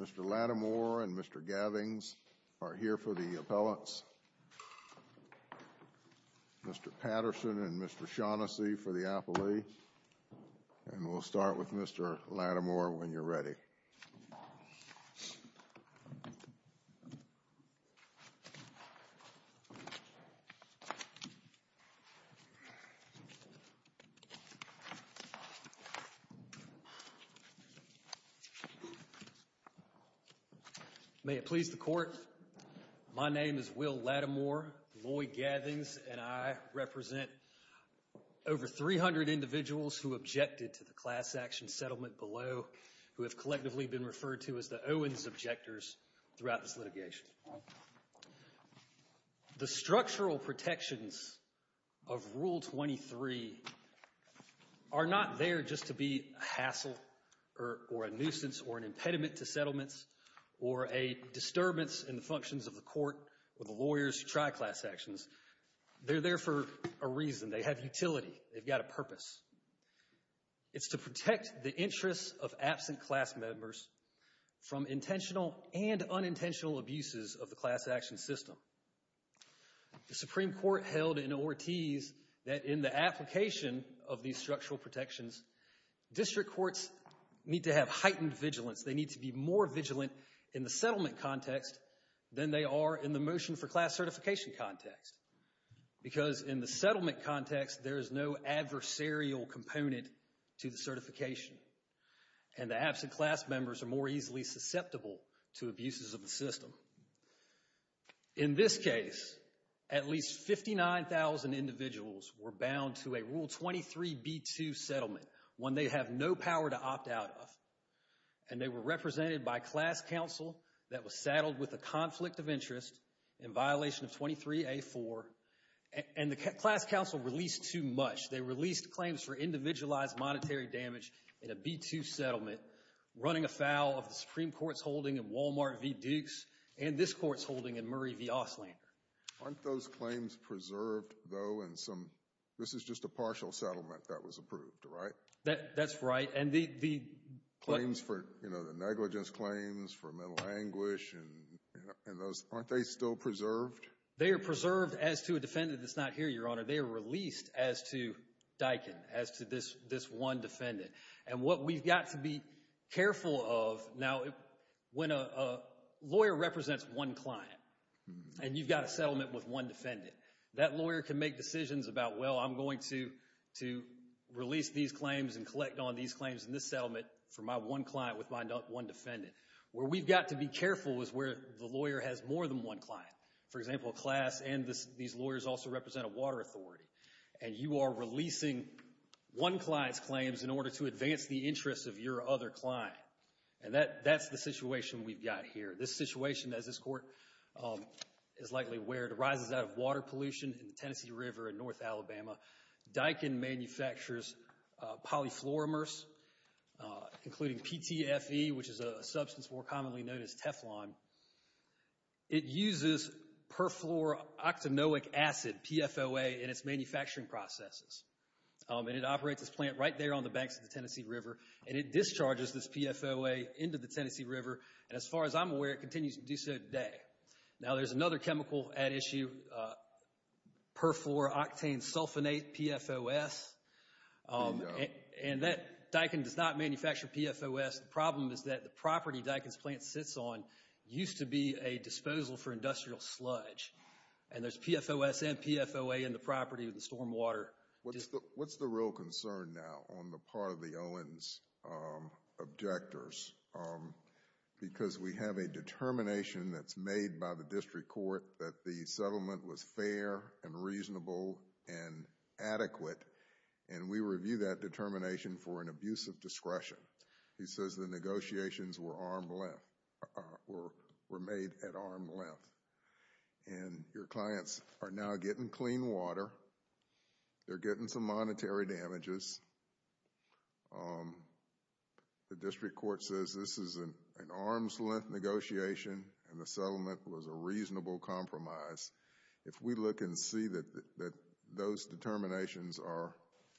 Mr. Lattimore and Mr. Gavings are here for the appellants. Mr. Patterson and Mr. Shaughnessy for the appellee. And we'll start with Mr. Lattimore when you're ready. May it please the court. My name is Will Lattimore. Lloyd Gavings and I represent over 300 individuals who objected to the class action settlement below who have collectively been referred to as the Owens objectors throughout this litigation. The structural protections of Rule 23 are not there just to be a hassle or a nuisance or an impediment to settlements or a disturbance in the functions of the court or the lawyers to try class actions. They're there for a reason. They have utility. They've got a purpose. It's to protect the interests of absent class members from intentional and unintentional abuses of the class action system. The Supreme Court held in Ortiz that in the application of these structural protections, district courts need to have heightened vigilance. They need to be more vigilant in the settlement context than they are in the motion for class certification context. Because in the settlement context, there is no adversarial component to the certification. And the absent class members are more easily susceptible to abuses of the system. In this case, at least 59,000 individuals were bound to a Rule 23b2 settlement, one they have no power to opt out of. And they were represented by class counsel that was saddled with a conflict of interest in violation of 23a4. And the class counsel released too much. They released claims for individualized monetary damage in a b2 settlement, running afoul of the Supreme Court's holding in Walmart v. Dukes and this court's holding in Murray v. Auslander. Aren't those claims preserved, though? This is just a partial settlement that was approved, right? That's right. Claims for, you know, the negligence claims for mental anguish and those, aren't they still preserved? They are preserved as to a defendant that's not here, Your Honor. They are released as to Dykin, as to this one defendant. And what we've got to be careful of now, when a lawyer represents one client, and you've got a settlement with one defendant, that lawyer can make decisions about, well, I'm going to release these claims and collect on these claims in this settlement for my one client with my one defendant. Where we've got to be careful is where the lawyer has more than one client. For example, a class and these lawyers also represent a water authority. And you are releasing one client's claims in order to advance the interests of your other client. And that's the situation we've got here. This situation, as this court is likely aware, arises out of water pollution in the Tennessee River in North Alabama. Dykin manufactures polyfluoromers, including PTFE, which is a substance more commonly known as Teflon. It uses perfluoroactanoic acid, PFOA, in its manufacturing processes. And it operates its plant right there on the banks of the Tennessee River. And it discharges this PFOA into the Tennessee River. And as far as I'm aware, it continues to do so today. Now, there's another chemical at issue, perfluoroctanesulfonate, PFOS. And Dykin does not manufacture PFOS. The problem is that the property Dykin's plant sits on used to be a disposal for industrial sludge. And there's PFOS and PFOA in the property of the stormwater. What's the real concern now on the part of the Owens objectors? Because we have a determination that's made by the district court that the settlement was fair and reasonable and adequate. And we review that determination for an abuse of discretion. He says the negotiations were made at arm's length. And your clients are now getting clean water. They're getting some monetary damages. The district court says this is an arm's length negotiation and the settlement was a reasonable compromise. If we look and see that those determinations are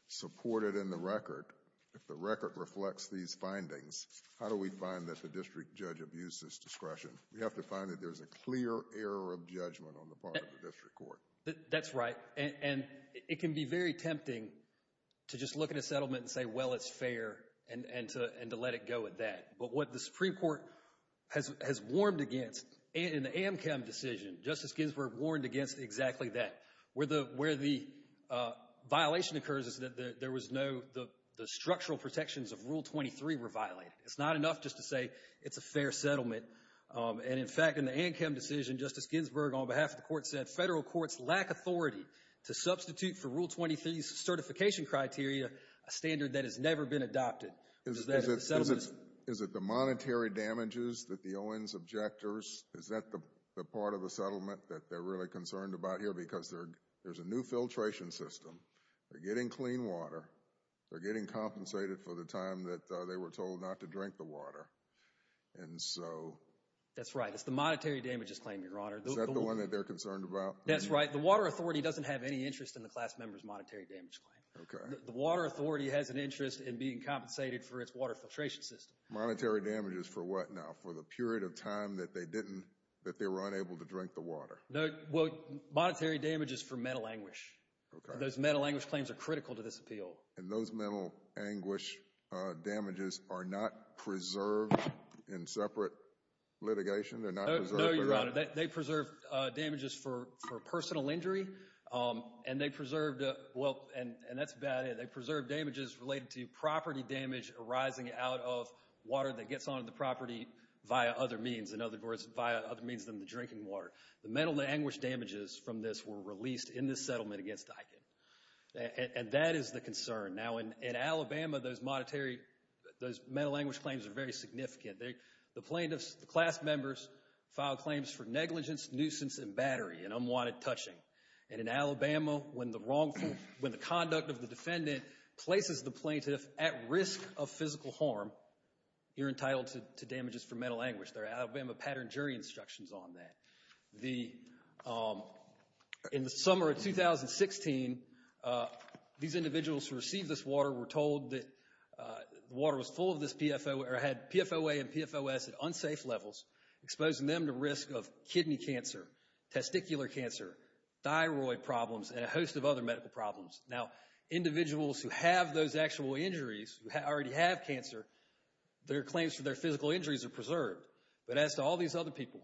supported in the record, if the record reflects these findings, how do we find that the district judge abused his discretion? We have to find that there's a clear error of judgment on the part of the district court. That's right. And it can be very tempting to just look at a settlement and say, well, it's fair, and to let it go at that. But what the Supreme Court has warned against in the Amchem decision, Justice Ginsburg warned against exactly that. Where the violation occurs is that there was no – the structural protections of Rule 23 were violated. It's not enough just to say it's a fair settlement. And, in fact, in the Amchem decision, Justice Ginsburg, on behalf of the court, said federal courts lack authority to substitute for Rule 23's certification criteria a standard that has never been adopted. Is it the monetary damages that the Owens objectors – is that the part of the settlement that they're really concerned about here? Because there's a new filtration system. They're getting clean water. They're getting compensated for the time that they were told not to drink the water. And so – That's right. It's the monetary damages claim, Your Honor. Is that the one that they're concerned about? That's right. The Water Authority doesn't have any interest in the class member's monetary damage claim. Okay. The Water Authority has an interest in being compensated for its water filtration system. Monetary damages for what now? For the period of time that they didn't – that they were unable to drink the water? Well, monetary damages for metal anguish. Okay. Those metal anguish claims are critical to this appeal. And those metal anguish damages are not preserved in separate litigation? They're not preserved for – No, Your Honor. They preserve damages for personal injury. And they preserved – well, and that's about it. They preserved damages related to property damage arising out of water that gets onto the property via other means, in other words, via other means than the drinking water. The metal anguish damages from this were released in this settlement against Eichen. And that is the concern. Now, in Alabama, those monetary – those metal anguish claims are very significant. The plaintiff's class members filed claims for negligence, nuisance, and battery and unwanted touching. And in Alabama, when the wrongful – when the conduct of the defendant places the plaintiff at risk of physical harm, you're entitled to damages for metal anguish. There are Alabama pattern jury instructions on that. In the summer of 2016, these individuals who received this water were told that the water was full of this PFOA or had PFOA and PFOS at unsafe levels, exposing them to risk of kidney cancer, testicular cancer, thyroid problems, and a host of other medical problems. Now, individuals who have those actual injuries, who already have cancer, their claims for their physical injuries are preserved. But as to all these other people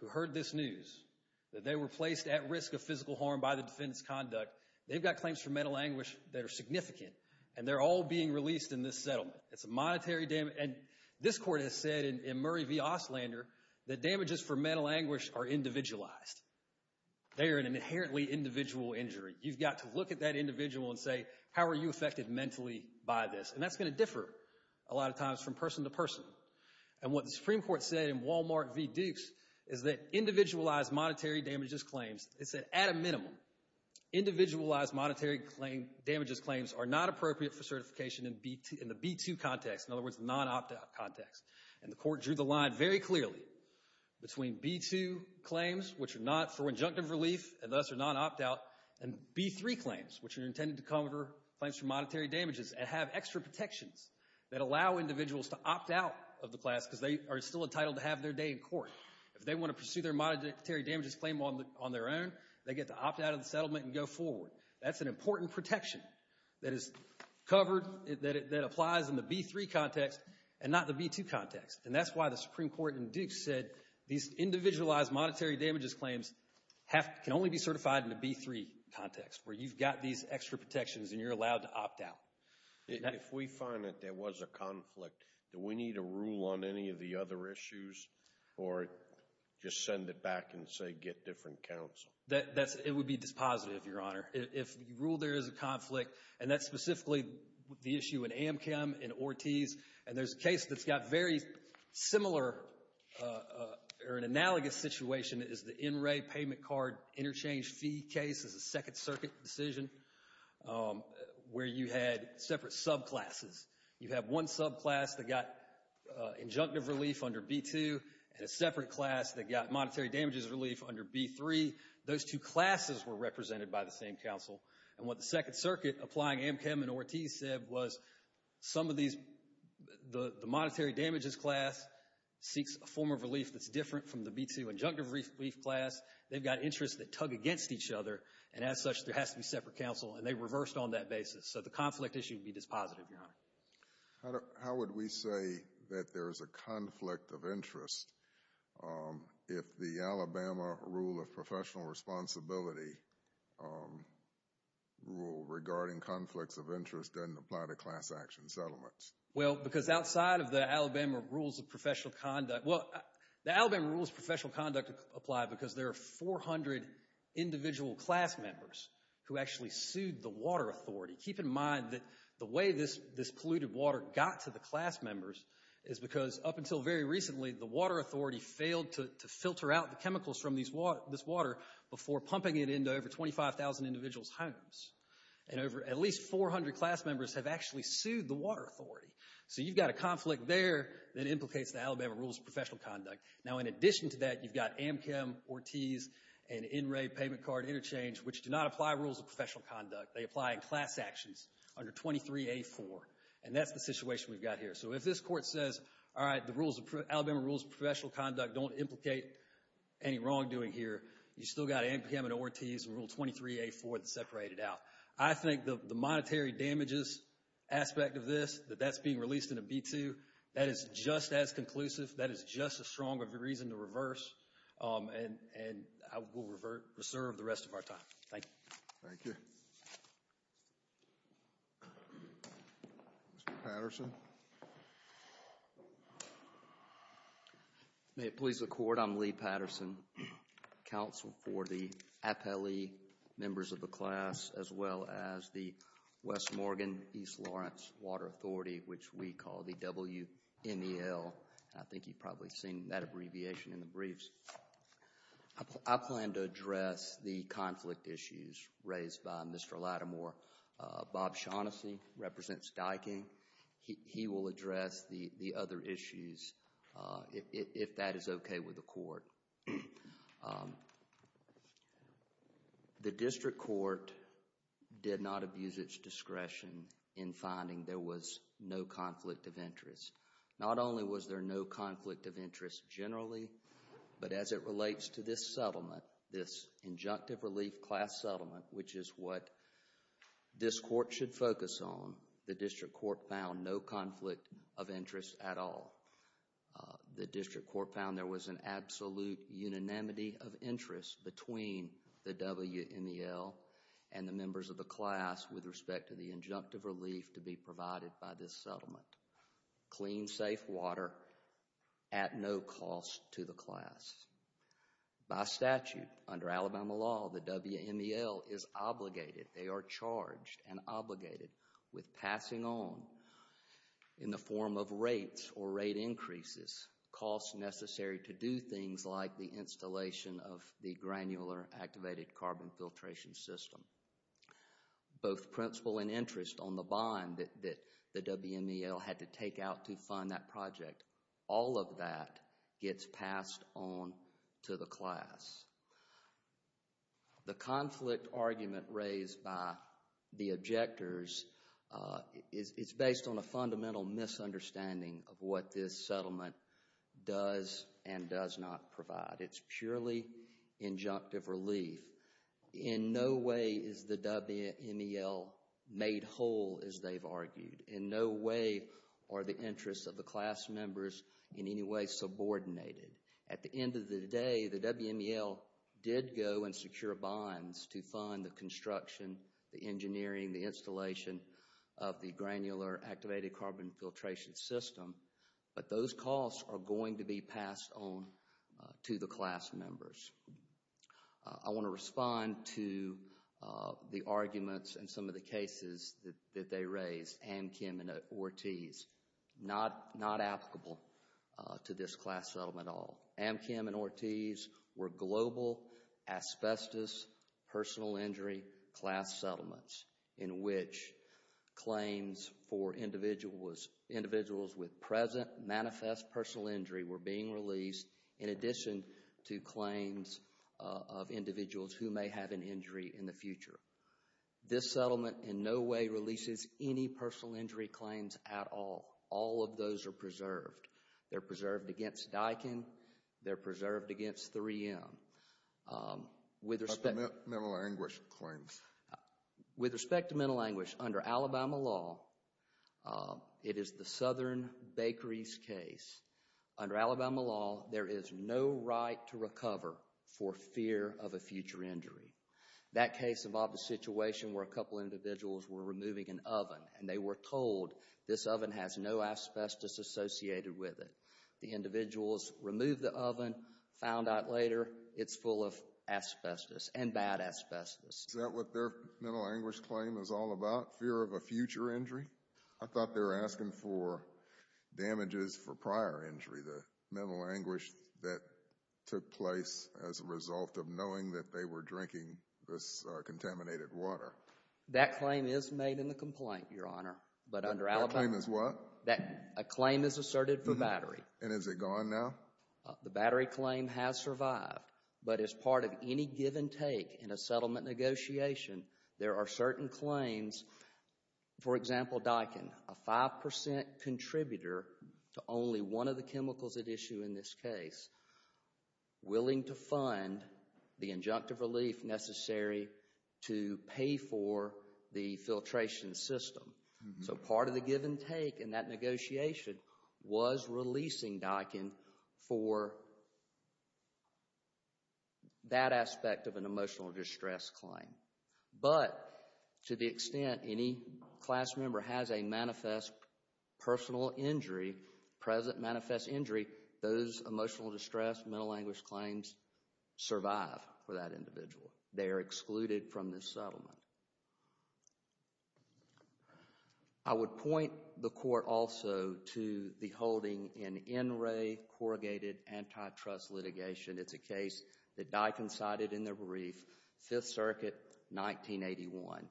who heard this news, that they were placed at risk of physical harm by the defendant's conduct, they've got claims for metal anguish that are significant, and they're all being released in this settlement. It's a monetary – and this court has said in Murray v. Oslander that damages for metal anguish are individualized. They are an inherently individual injury. You've got to look at that individual and say, how are you affected mentally by this? And that's going to differ a lot of times from person to person. And what the Supreme Court said in Wal-Mart v. Dukes is that individualized monetary damages claims – it said, at a minimum, individualized monetary damages claims are not appropriate for certification in the B-2 context, in other words, non-opt-out context. And the court drew the line very clearly between B-2 claims, which are not for injunctive relief, and thus are non-opt-out, and B-3 claims, which are intended to cover claims for monetary damages and have extra protections that allow individuals to opt out of the class because they are still entitled to have their day in court. If they want to pursue their monetary damages claim on their own, they get to opt out of the settlement and go forward. That's an important protection that is covered, that applies in the B-3 context and not the B-2 context. And that's why the Supreme Court in Dukes said these individualized monetary damages claims can only be certified in the B-3 context, where you've got these extra protections and you're allowed to opt out. If we find that there was a conflict, do we need to rule on any of the other issues or just send it back and say get different counsel? It would be dispositive, Your Honor. If you rule there is a conflict, and that's specifically the issue in Amchem, in Ortiz, and there's a case that's got very similar or an analogous situation. It is the NRA payment card interchange fee case. It's a Second Circuit decision where you had separate subclasses. You have one subclass that got injunctive relief under B-2 and a separate class that got monetary damages relief under B-3. Those two classes were represented by the same counsel. And what the Second Circuit, applying Amchem and Ortiz, said was some of these, the monetary damages class seeks a form of relief that's different from the B-2 injunctive relief class. They've got interests that tug against each other, and as such there has to be separate counsel, and they reversed on that basis. How would we say that there's a conflict of interest if the Alabama Rule of Professional Responsibility Rule regarding conflicts of interest doesn't apply to class action settlements? Well, because outside of the Alabama Rules of Professional Conduct, well, the Alabama Rules of Professional Conduct apply because there are 400 individual class members who actually sued the water authority. Keep in mind that the way this polluted water got to the class members is because up until very recently, the water authority failed to filter out the chemicals from this water before pumping it into over 25,000 individuals' homes. And at least 400 class members have actually sued the water authority. So you've got a conflict there that implicates the Alabama Rules of Professional Conduct. Now, in addition to that, you've got Amchem, Ortiz, and NRA Payment Card Interchange, which do not apply rules of professional conduct. They apply in class actions under 23A4. And that's the situation we've got here. So if this court says, all right, the Alabama Rules of Professional Conduct don't implicate any wrongdoing here, you've still got Amchem and Ortiz and Rule 23A4 that separated out. I think the monetary damages aspect of this, that that's being released in a B-2, that is just as conclusive. That is just as strong of a reason to reverse. And we'll reserve the rest of our time. Thank you. Thank you. Mr. Patterson? May it please the Court, I'm Lee Patterson, counsel for the APELE members of the class, as well as the West Morgan-East Lawrence Water Authority, which we call the WNEL. I think you've probably seen that abbreviation in the briefs. I plan to address the conflict issues raised by Mr. Lattimore. Bob Shaughnessy represents Dyking. He will address the other issues if that is okay with the court. The district court did not abuse its discretion in finding there was no conflict of interest. Not only was there no conflict of interest generally, but as it relates to this settlement, this injunctive relief class settlement, which is what this court should focus on, the district court found no conflict of interest at all. The district court found there was an absolute unanimity of interest between the WNEL and the members of the class with respect to the injunctive relief to be provided by this settlement. Clean, safe water at no cost to the class. By statute, under Alabama law, the WNEL is obligated, they are charged and obligated with passing on, in the form of rates or rate increases, costs necessary to do things like the installation of the granular activated carbon filtration system. Both principle and interest on the bond that the WNEL had to take out to fund that project, all of that gets passed on to the class. The conflict argument raised by the objectors is based on a fundamental misunderstanding of what this settlement does and does not provide. It's purely injunctive relief. In no way is the WNEL made whole, as they've argued. In no way are the interests of the class members in any way subordinated. At the end of the day, the WNEL did go and secure bonds to fund the construction, the engineering, the installation of the granular activated carbon filtration system, but those costs are going to be passed on to the class members. I want to respond to the arguments and some of the cases that they raised. Amchem and Ortiz, not applicable to this class settlement at all. Amchem and Ortiz were global asbestos personal injury class settlements in which claims for individuals with present manifest personal injury were being released in addition to claims of individuals who may have an injury in the future. This settlement in no way releases any personal injury claims at all. All of those are preserved. They're preserved against Dykin. They're preserved against 3M. With respect to mental anguish claims. With respect to mental anguish, under Alabama law, it is the Southern Bakeries case. Under Alabama law, there is no right to recover for fear of a future injury. That case involved a situation where a couple individuals were removing an oven and they were told this oven has no asbestos associated with it. The individuals removed the oven, found out later it's full of asbestos and bad asbestos. Is that what their mental anguish claim is all about, fear of a future injury? I thought they were asking for damages for prior injury, the mental anguish that took place as a result of knowing that they were drinking this contaminated water. That claim is made in the complaint, Your Honor, but under Alabama. That claim is what? A claim is asserted for battery. And is it gone now? The battery claim has survived, but as part of any give and take in a settlement negotiation, there are certain claims. For example, Daikin, a 5% contributor to only one of the chemicals at issue in this case, willing to fund the injunctive relief necessary to pay for the filtration system. So part of the give and take in that negotiation was releasing Daikin for that aspect of an emotional distress claim. But to the extent any class member has a manifest personal injury, present manifest injury, those emotional distress, mental anguish claims survive for that individual. They are excluded from this settlement. I would point the court also to the holding in in-ray corrugated antitrust litigation. It's a case that Daikin cited in the brief, 5th Circuit, 1981.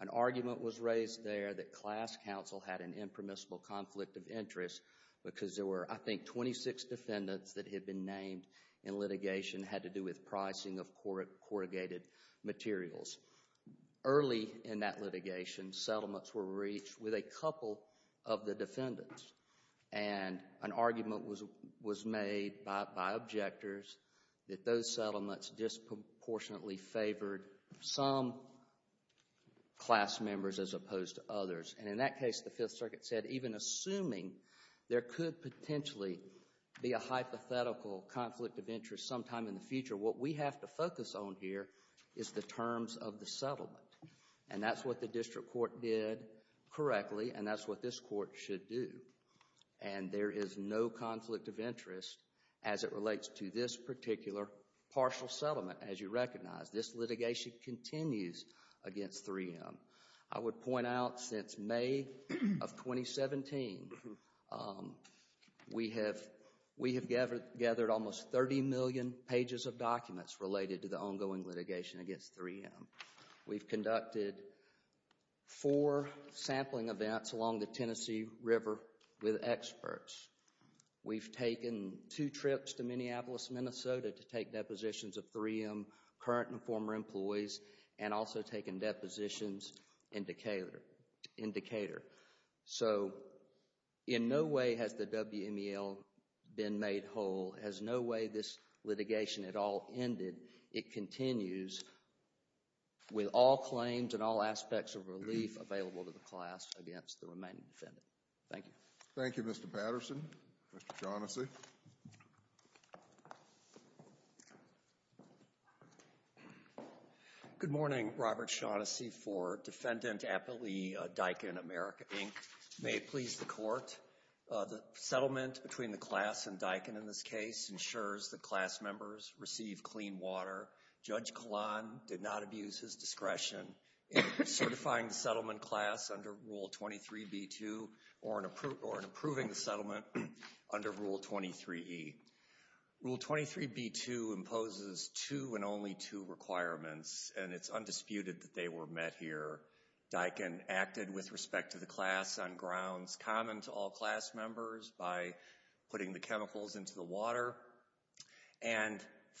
An argument was raised there that class counsel had an impermissible conflict of interest because there were, I think, 26 defendants that had been named in litigation had to do with pricing of corrugated materials. Early in that litigation, settlements were reached with a couple of the defendants, and an argument was made by objectors that those settlements disproportionately favored some class members as opposed to others. And in that case, the 5th Circuit said even assuming there could potentially be a hypothetical conflict of interest sometime in the future, what we have to focus on here is the terms of the settlement. And that's what the district court did correctly, and that's what this court should do. And there is no conflict of interest as it relates to this particular partial settlement, as you recognize. This litigation continues against 3M. I would point out since May of 2017, we have gathered almost 30 million pages of documents related to the ongoing litigation against 3M. We've conducted four sampling events along the Tennessee River with experts. We've taken two trips to Minneapolis, Minnesota to take depositions of 3M current and former employees and also taken depositions in Decatur. So in no way has the WMEL been made whole. There's no way this litigation at all ended. It continues with all claims and all aspects of relief available to the class against the remaining defendant. Thank you. Thank you, Mr. Patterson. Mr. Shaughnessy. Good morning. Robert Shaughnessy for Defendant Applee, Daikin America, Inc. May it please the Court, the settlement between the class and Daikin in this case ensures that class members receive clean water. Judge Kalan did not abuse his discretion in certifying the settlement class under Rule 23b-2 or in approving the settlement under Rule 23e. Rule 23b-2 imposes two and only two requirements, and it's undisputed that they were met here. Daikin acted with respect to the class on grounds common to all class members by putting the chemicals into the water, and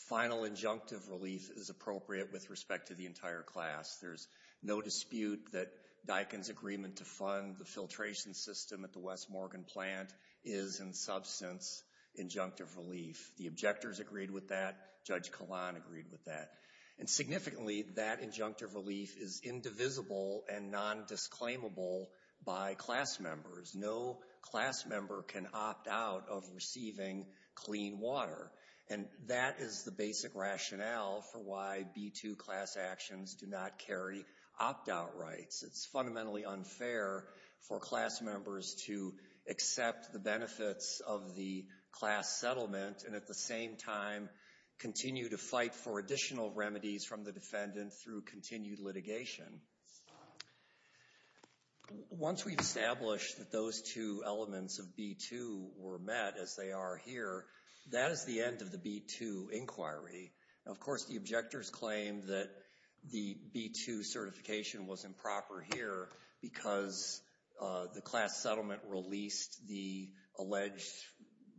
final injunctive relief is appropriate with respect to the entire class. There's no dispute that Daikin's agreement to fund the filtration system at the West Morgan plant is in substance injunctive relief. The objectors agreed with that. Judge Kalan agreed with that. And significantly, that injunctive relief is indivisible and nondisclaimable by class members. No class member can opt out of receiving clean water. And that is the basic rationale for why B-2 class actions do not carry opt-out rights. It's fundamentally unfair for class members to accept the benefits of the class settlement and at the same time continue to fight for additional remedies from the defendant through continued litigation. Once we've established that those two elements of B-2 were met, as they are here, that is the end of the B-2 inquiry. Of course, the objectors claim that the B-2 certification was improper here because the class settlement released the alleged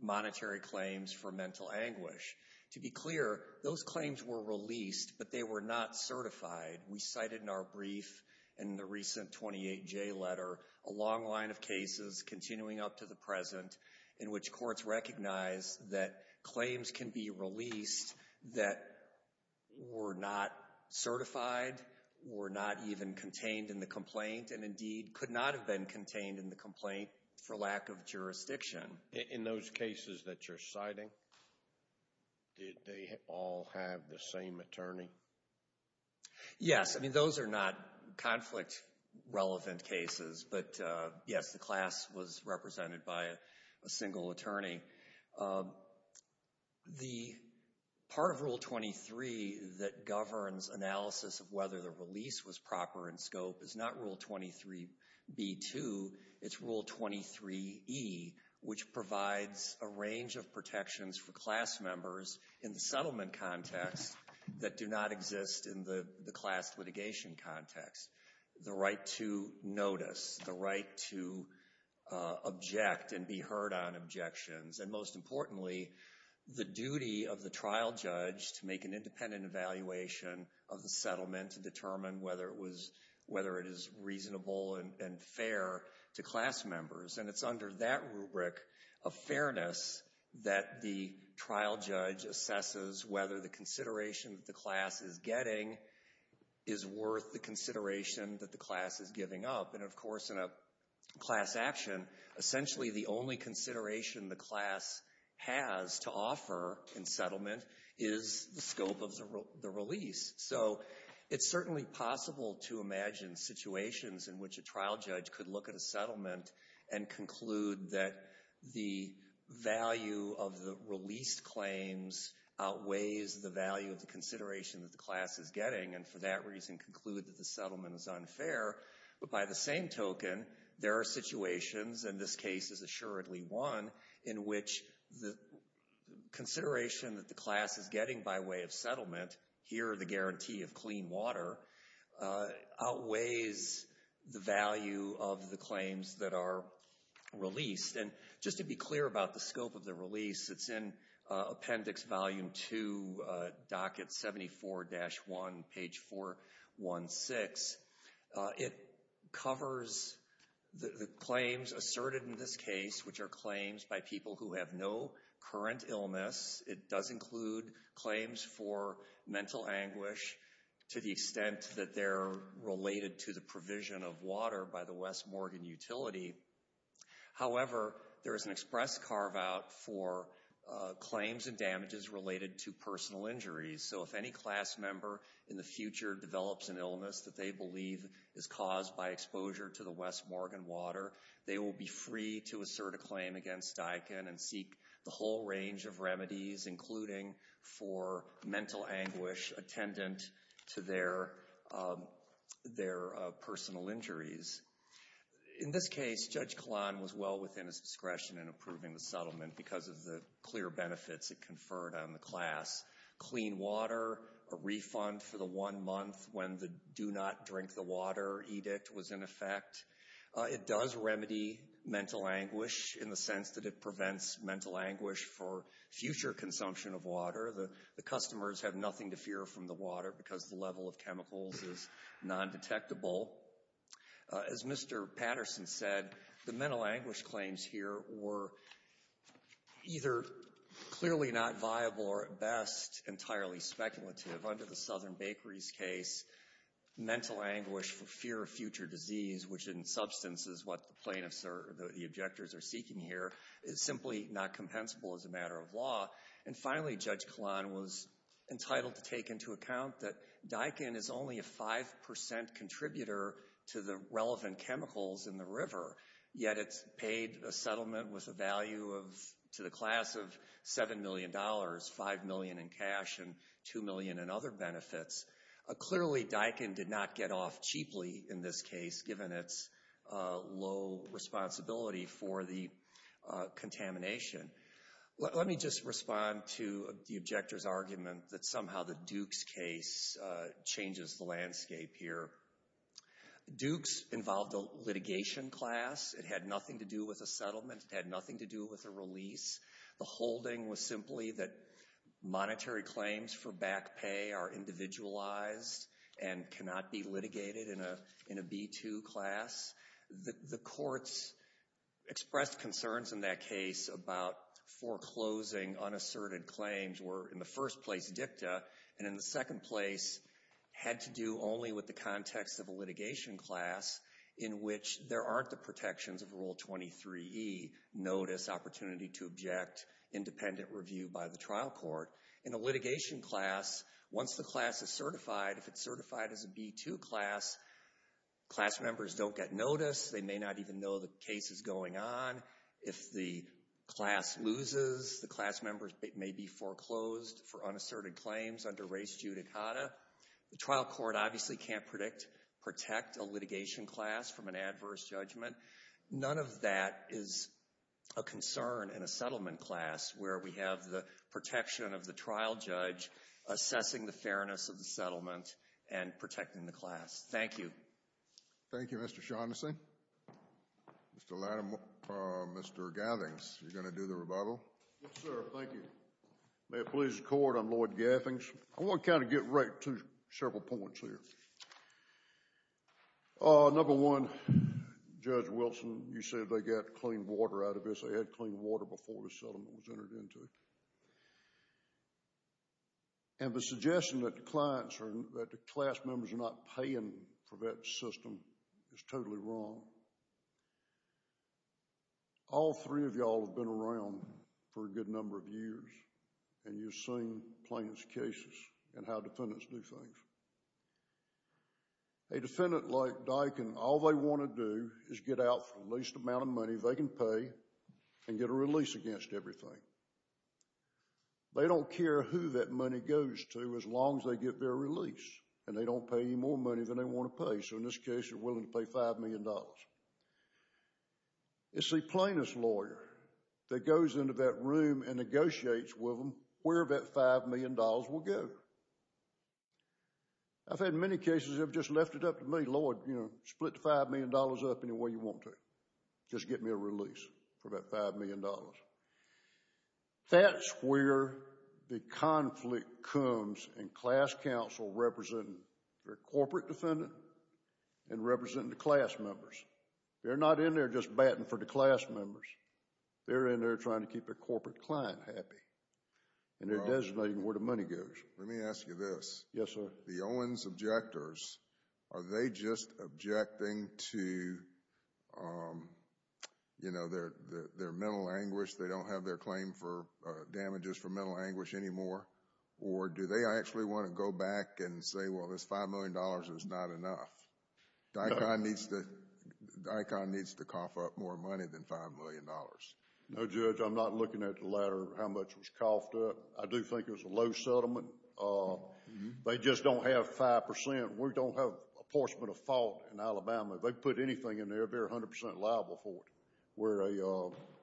monetary claims for mental anguish. To be clear, those claims were released, but they were not certified. We cited in our brief in the recent 28J letter a long line of cases continuing up to the present in which courts recognize that claims can be released that were not certified, were not even contained in the complaint, and indeed could not have been contained in the complaint for lack of jurisdiction. In those cases that you're citing, did they all have the same attorney? Yes. I mean, those are not conflict-relevant cases. But, yes, the class was represented by a single attorney. The part of Rule 23 that governs analysis of whether the release was proper in scope is not Rule 23B-2, it's Rule 23E, which provides a range of protections for class members in the settlement context that do not exist in the class litigation context. The right to notice, the right to object and be heard on objections, and most importantly, the duty of the trial judge to make an independent evaluation of the settlement to determine whether it is reasonable and fair to class members. And it's under that rubric of fairness that the trial judge assesses whether the consideration that the class is getting is worth the consideration that the class is giving up. And, of course, in a class action, essentially the only consideration the class has to offer in settlement is the scope of the release. So it's certainly possible to imagine situations in which a trial judge could look at a settlement and conclude that the value of the released claims outweighs the value of the consideration that the class is getting and for that reason conclude that the settlement is unfair. But by the same token, there are situations, and this case is assuredly one, in which the consideration that the class is getting by way of settlement, here the guarantee of clean water, outweighs the value of the claims that are released. And just to be clear about the scope of the release, it's in appendix volume 2, docket 74-1, page 416. It covers the claims asserted in this case, which are claims by people who have no current illness. It does include claims for mental anguish to the extent that they're related to the provision of water by the West Morgan utility. However, there is an express carve-out for claims and damages related to personal injuries. So if any class member in the future develops an illness that they believe is caused by exposure to the West Morgan water, they will be free to assert a claim against DICON and seek the whole range of remedies, including for mental anguish attendant to their personal injuries. In this case, Judge Kalan was well within his discretion in approving the settlement because of the clear benefits it conferred on the class. Clean water, a refund for the one month when the do not drink the water edict was in effect. It does remedy mental anguish in the sense that it prevents mental anguish for future consumption of water. The customers have nothing to fear from the water because the level of chemicals is non-detectable. As Mr. Patterson said, the mental anguish claims here were either clearly not viable or at best entirely speculative. Under the Southern Bakeries case, mental anguish for fear of future disease, which in substance is what the plaintiffs or the objectors are seeking here, is simply not compensable as a matter of law. And finally, Judge Kalan was entitled to take into account that DICON is only a 5% contributor to the relevant chemicals in the river, yet it's paid a settlement with a value to the class of $7 million, $5 million in cash, and $2 million in other benefits. Clearly, DICON did not get off cheaply in this case, given its low responsibility for the contamination. Let me just respond to the objector's argument that somehow the Dukes case changes the landscape here. Dukes involved a litigation class. It had nothing to do with a settlement. It had nothing to do with a release. The holding was simply that monetary claims for back pay are individualized and cannot be litigated in a B-2 class. The courts expressed concerns in that case about foreclosing unasserted claims, where in the first place, DICTA, and in the second place, had to do only with the context of a litigation class in which there aren't the protections of Rule 23e, Notice, Opportunity to Object, Independent Review by the trial court. In a litigation class, once the class is certified, if it's certified as a B-2 class, class members don't get notice. They may not even know the case is going on. If the class loses, the class members may be foreclosed for unasserted claims under Res Judicata. The trial court obviously can't protect a litigation class from an adverse judgment. None of that is a concern in a settlement class where we have the protection of the trial judge assessing the fairness of the settlement and protecting the class. Thank you. Thank you, Mr. Shaughnessy. Mr. Gathings, you're going to do the rebuttal? Yes, sir. Thank you. May it please the Court, I'm Lloyd Gathings. I want to kind of get right to several points here. Number one, Judge Wilson, you said they got clean water out of this. They had clean water before the settlement was entered into it. And the suggestion that the class members are not paying for that system is totally wrong. All three of y'all have been around for a good number of years, and you've seen plaintiff's cases and how defendants do things. A defendant like Dykin, all they want to do is get out for the least amount of money they can pay and get a release against everything. They don't care who that money goes to as long as they get their release, and they don't pay any more money than they want to pay. So in this case, they're willing to pay $5 million. It's the plaintiff's lawyer that goes into that room and negotiates with them where that $5 million will go. I've had many cases that have just left it up to me, Lloyd, you know, split the $5 million up any way you want to. Just get me a release for that $5 million. That's where the conflict comes in class counsel representing their corporate defendant and representing the class members. They're not in there just batting for the class members. They're in there trying to keep their corporate client happy, and they're designating where the money goes. Let me ask you this. Yes, sir. The Owens objectors, are they just objecting to, you know, their mental anguish? They don't have their claim for damages for mental anguish anymore? Or do they actually want to go back and say, well, this $5 million is not enough? Daikon needs to cough up more money than $5 million. No, Judge, I'm not looking at the latter, how much was coughed up. I do think it was a low settlement. They just don't have 5%. We don't have apportionment of fault in Alabama. If they put anything in there, they're 100% liable for it.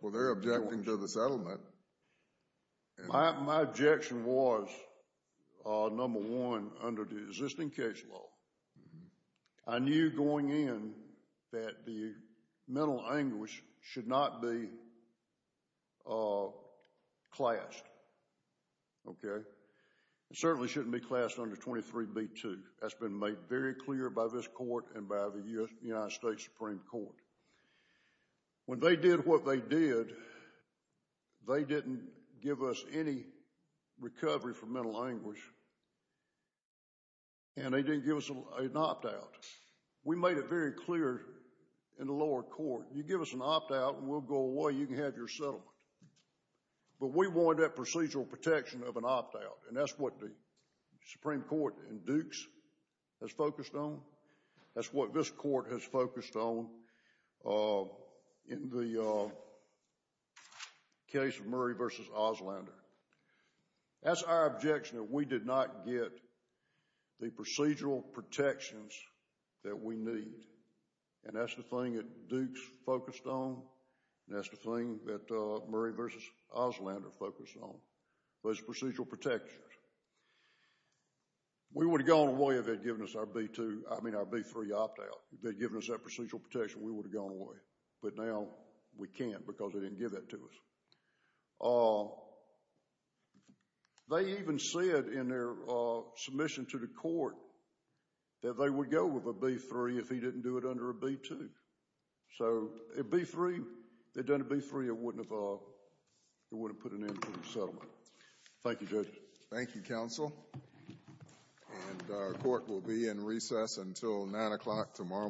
Well, they're objecting to the settlement. My objection was, number one, under the existing case law, I knew going in that the mental anguish should not be classed. Okay? It certainly shouldn't be classed under 23B2. That's been made very clear by this court and by the United States Supreme Court. When they did what they did, they didn't give us any recovery for mental anguish, and they didn't give us an opt-out. We made it very clear in the lower court, you give us an opt-out and we'll go away, you can have your settlement. But we wanted that procedural protection of an opt-out, and that's what the Supreme Court in Dukes has focused on. That's what this court has focused on in the case of Murray v. Auslander. That's our objection that we did not get the procedural protections that we need, and that's the thing that Dukes focused on. That's the thing that Murray v. Auslander focused on, those procedural protections. We would have gone away if they'd given us our B2, I mean our B3 opt-out. If they'd given us that procedural protection, we would have gone away. But now we can't because they didn't give that to us. They even said in their submission to the court that they would go with a B3 if he didn't do it under a B2. So a B3, if they'd done a B3, it wouldn't have put an end to the settlement. Thank you judges. Thank you counsel. And our court will be in recess until 9 o'clock tomorrow morning.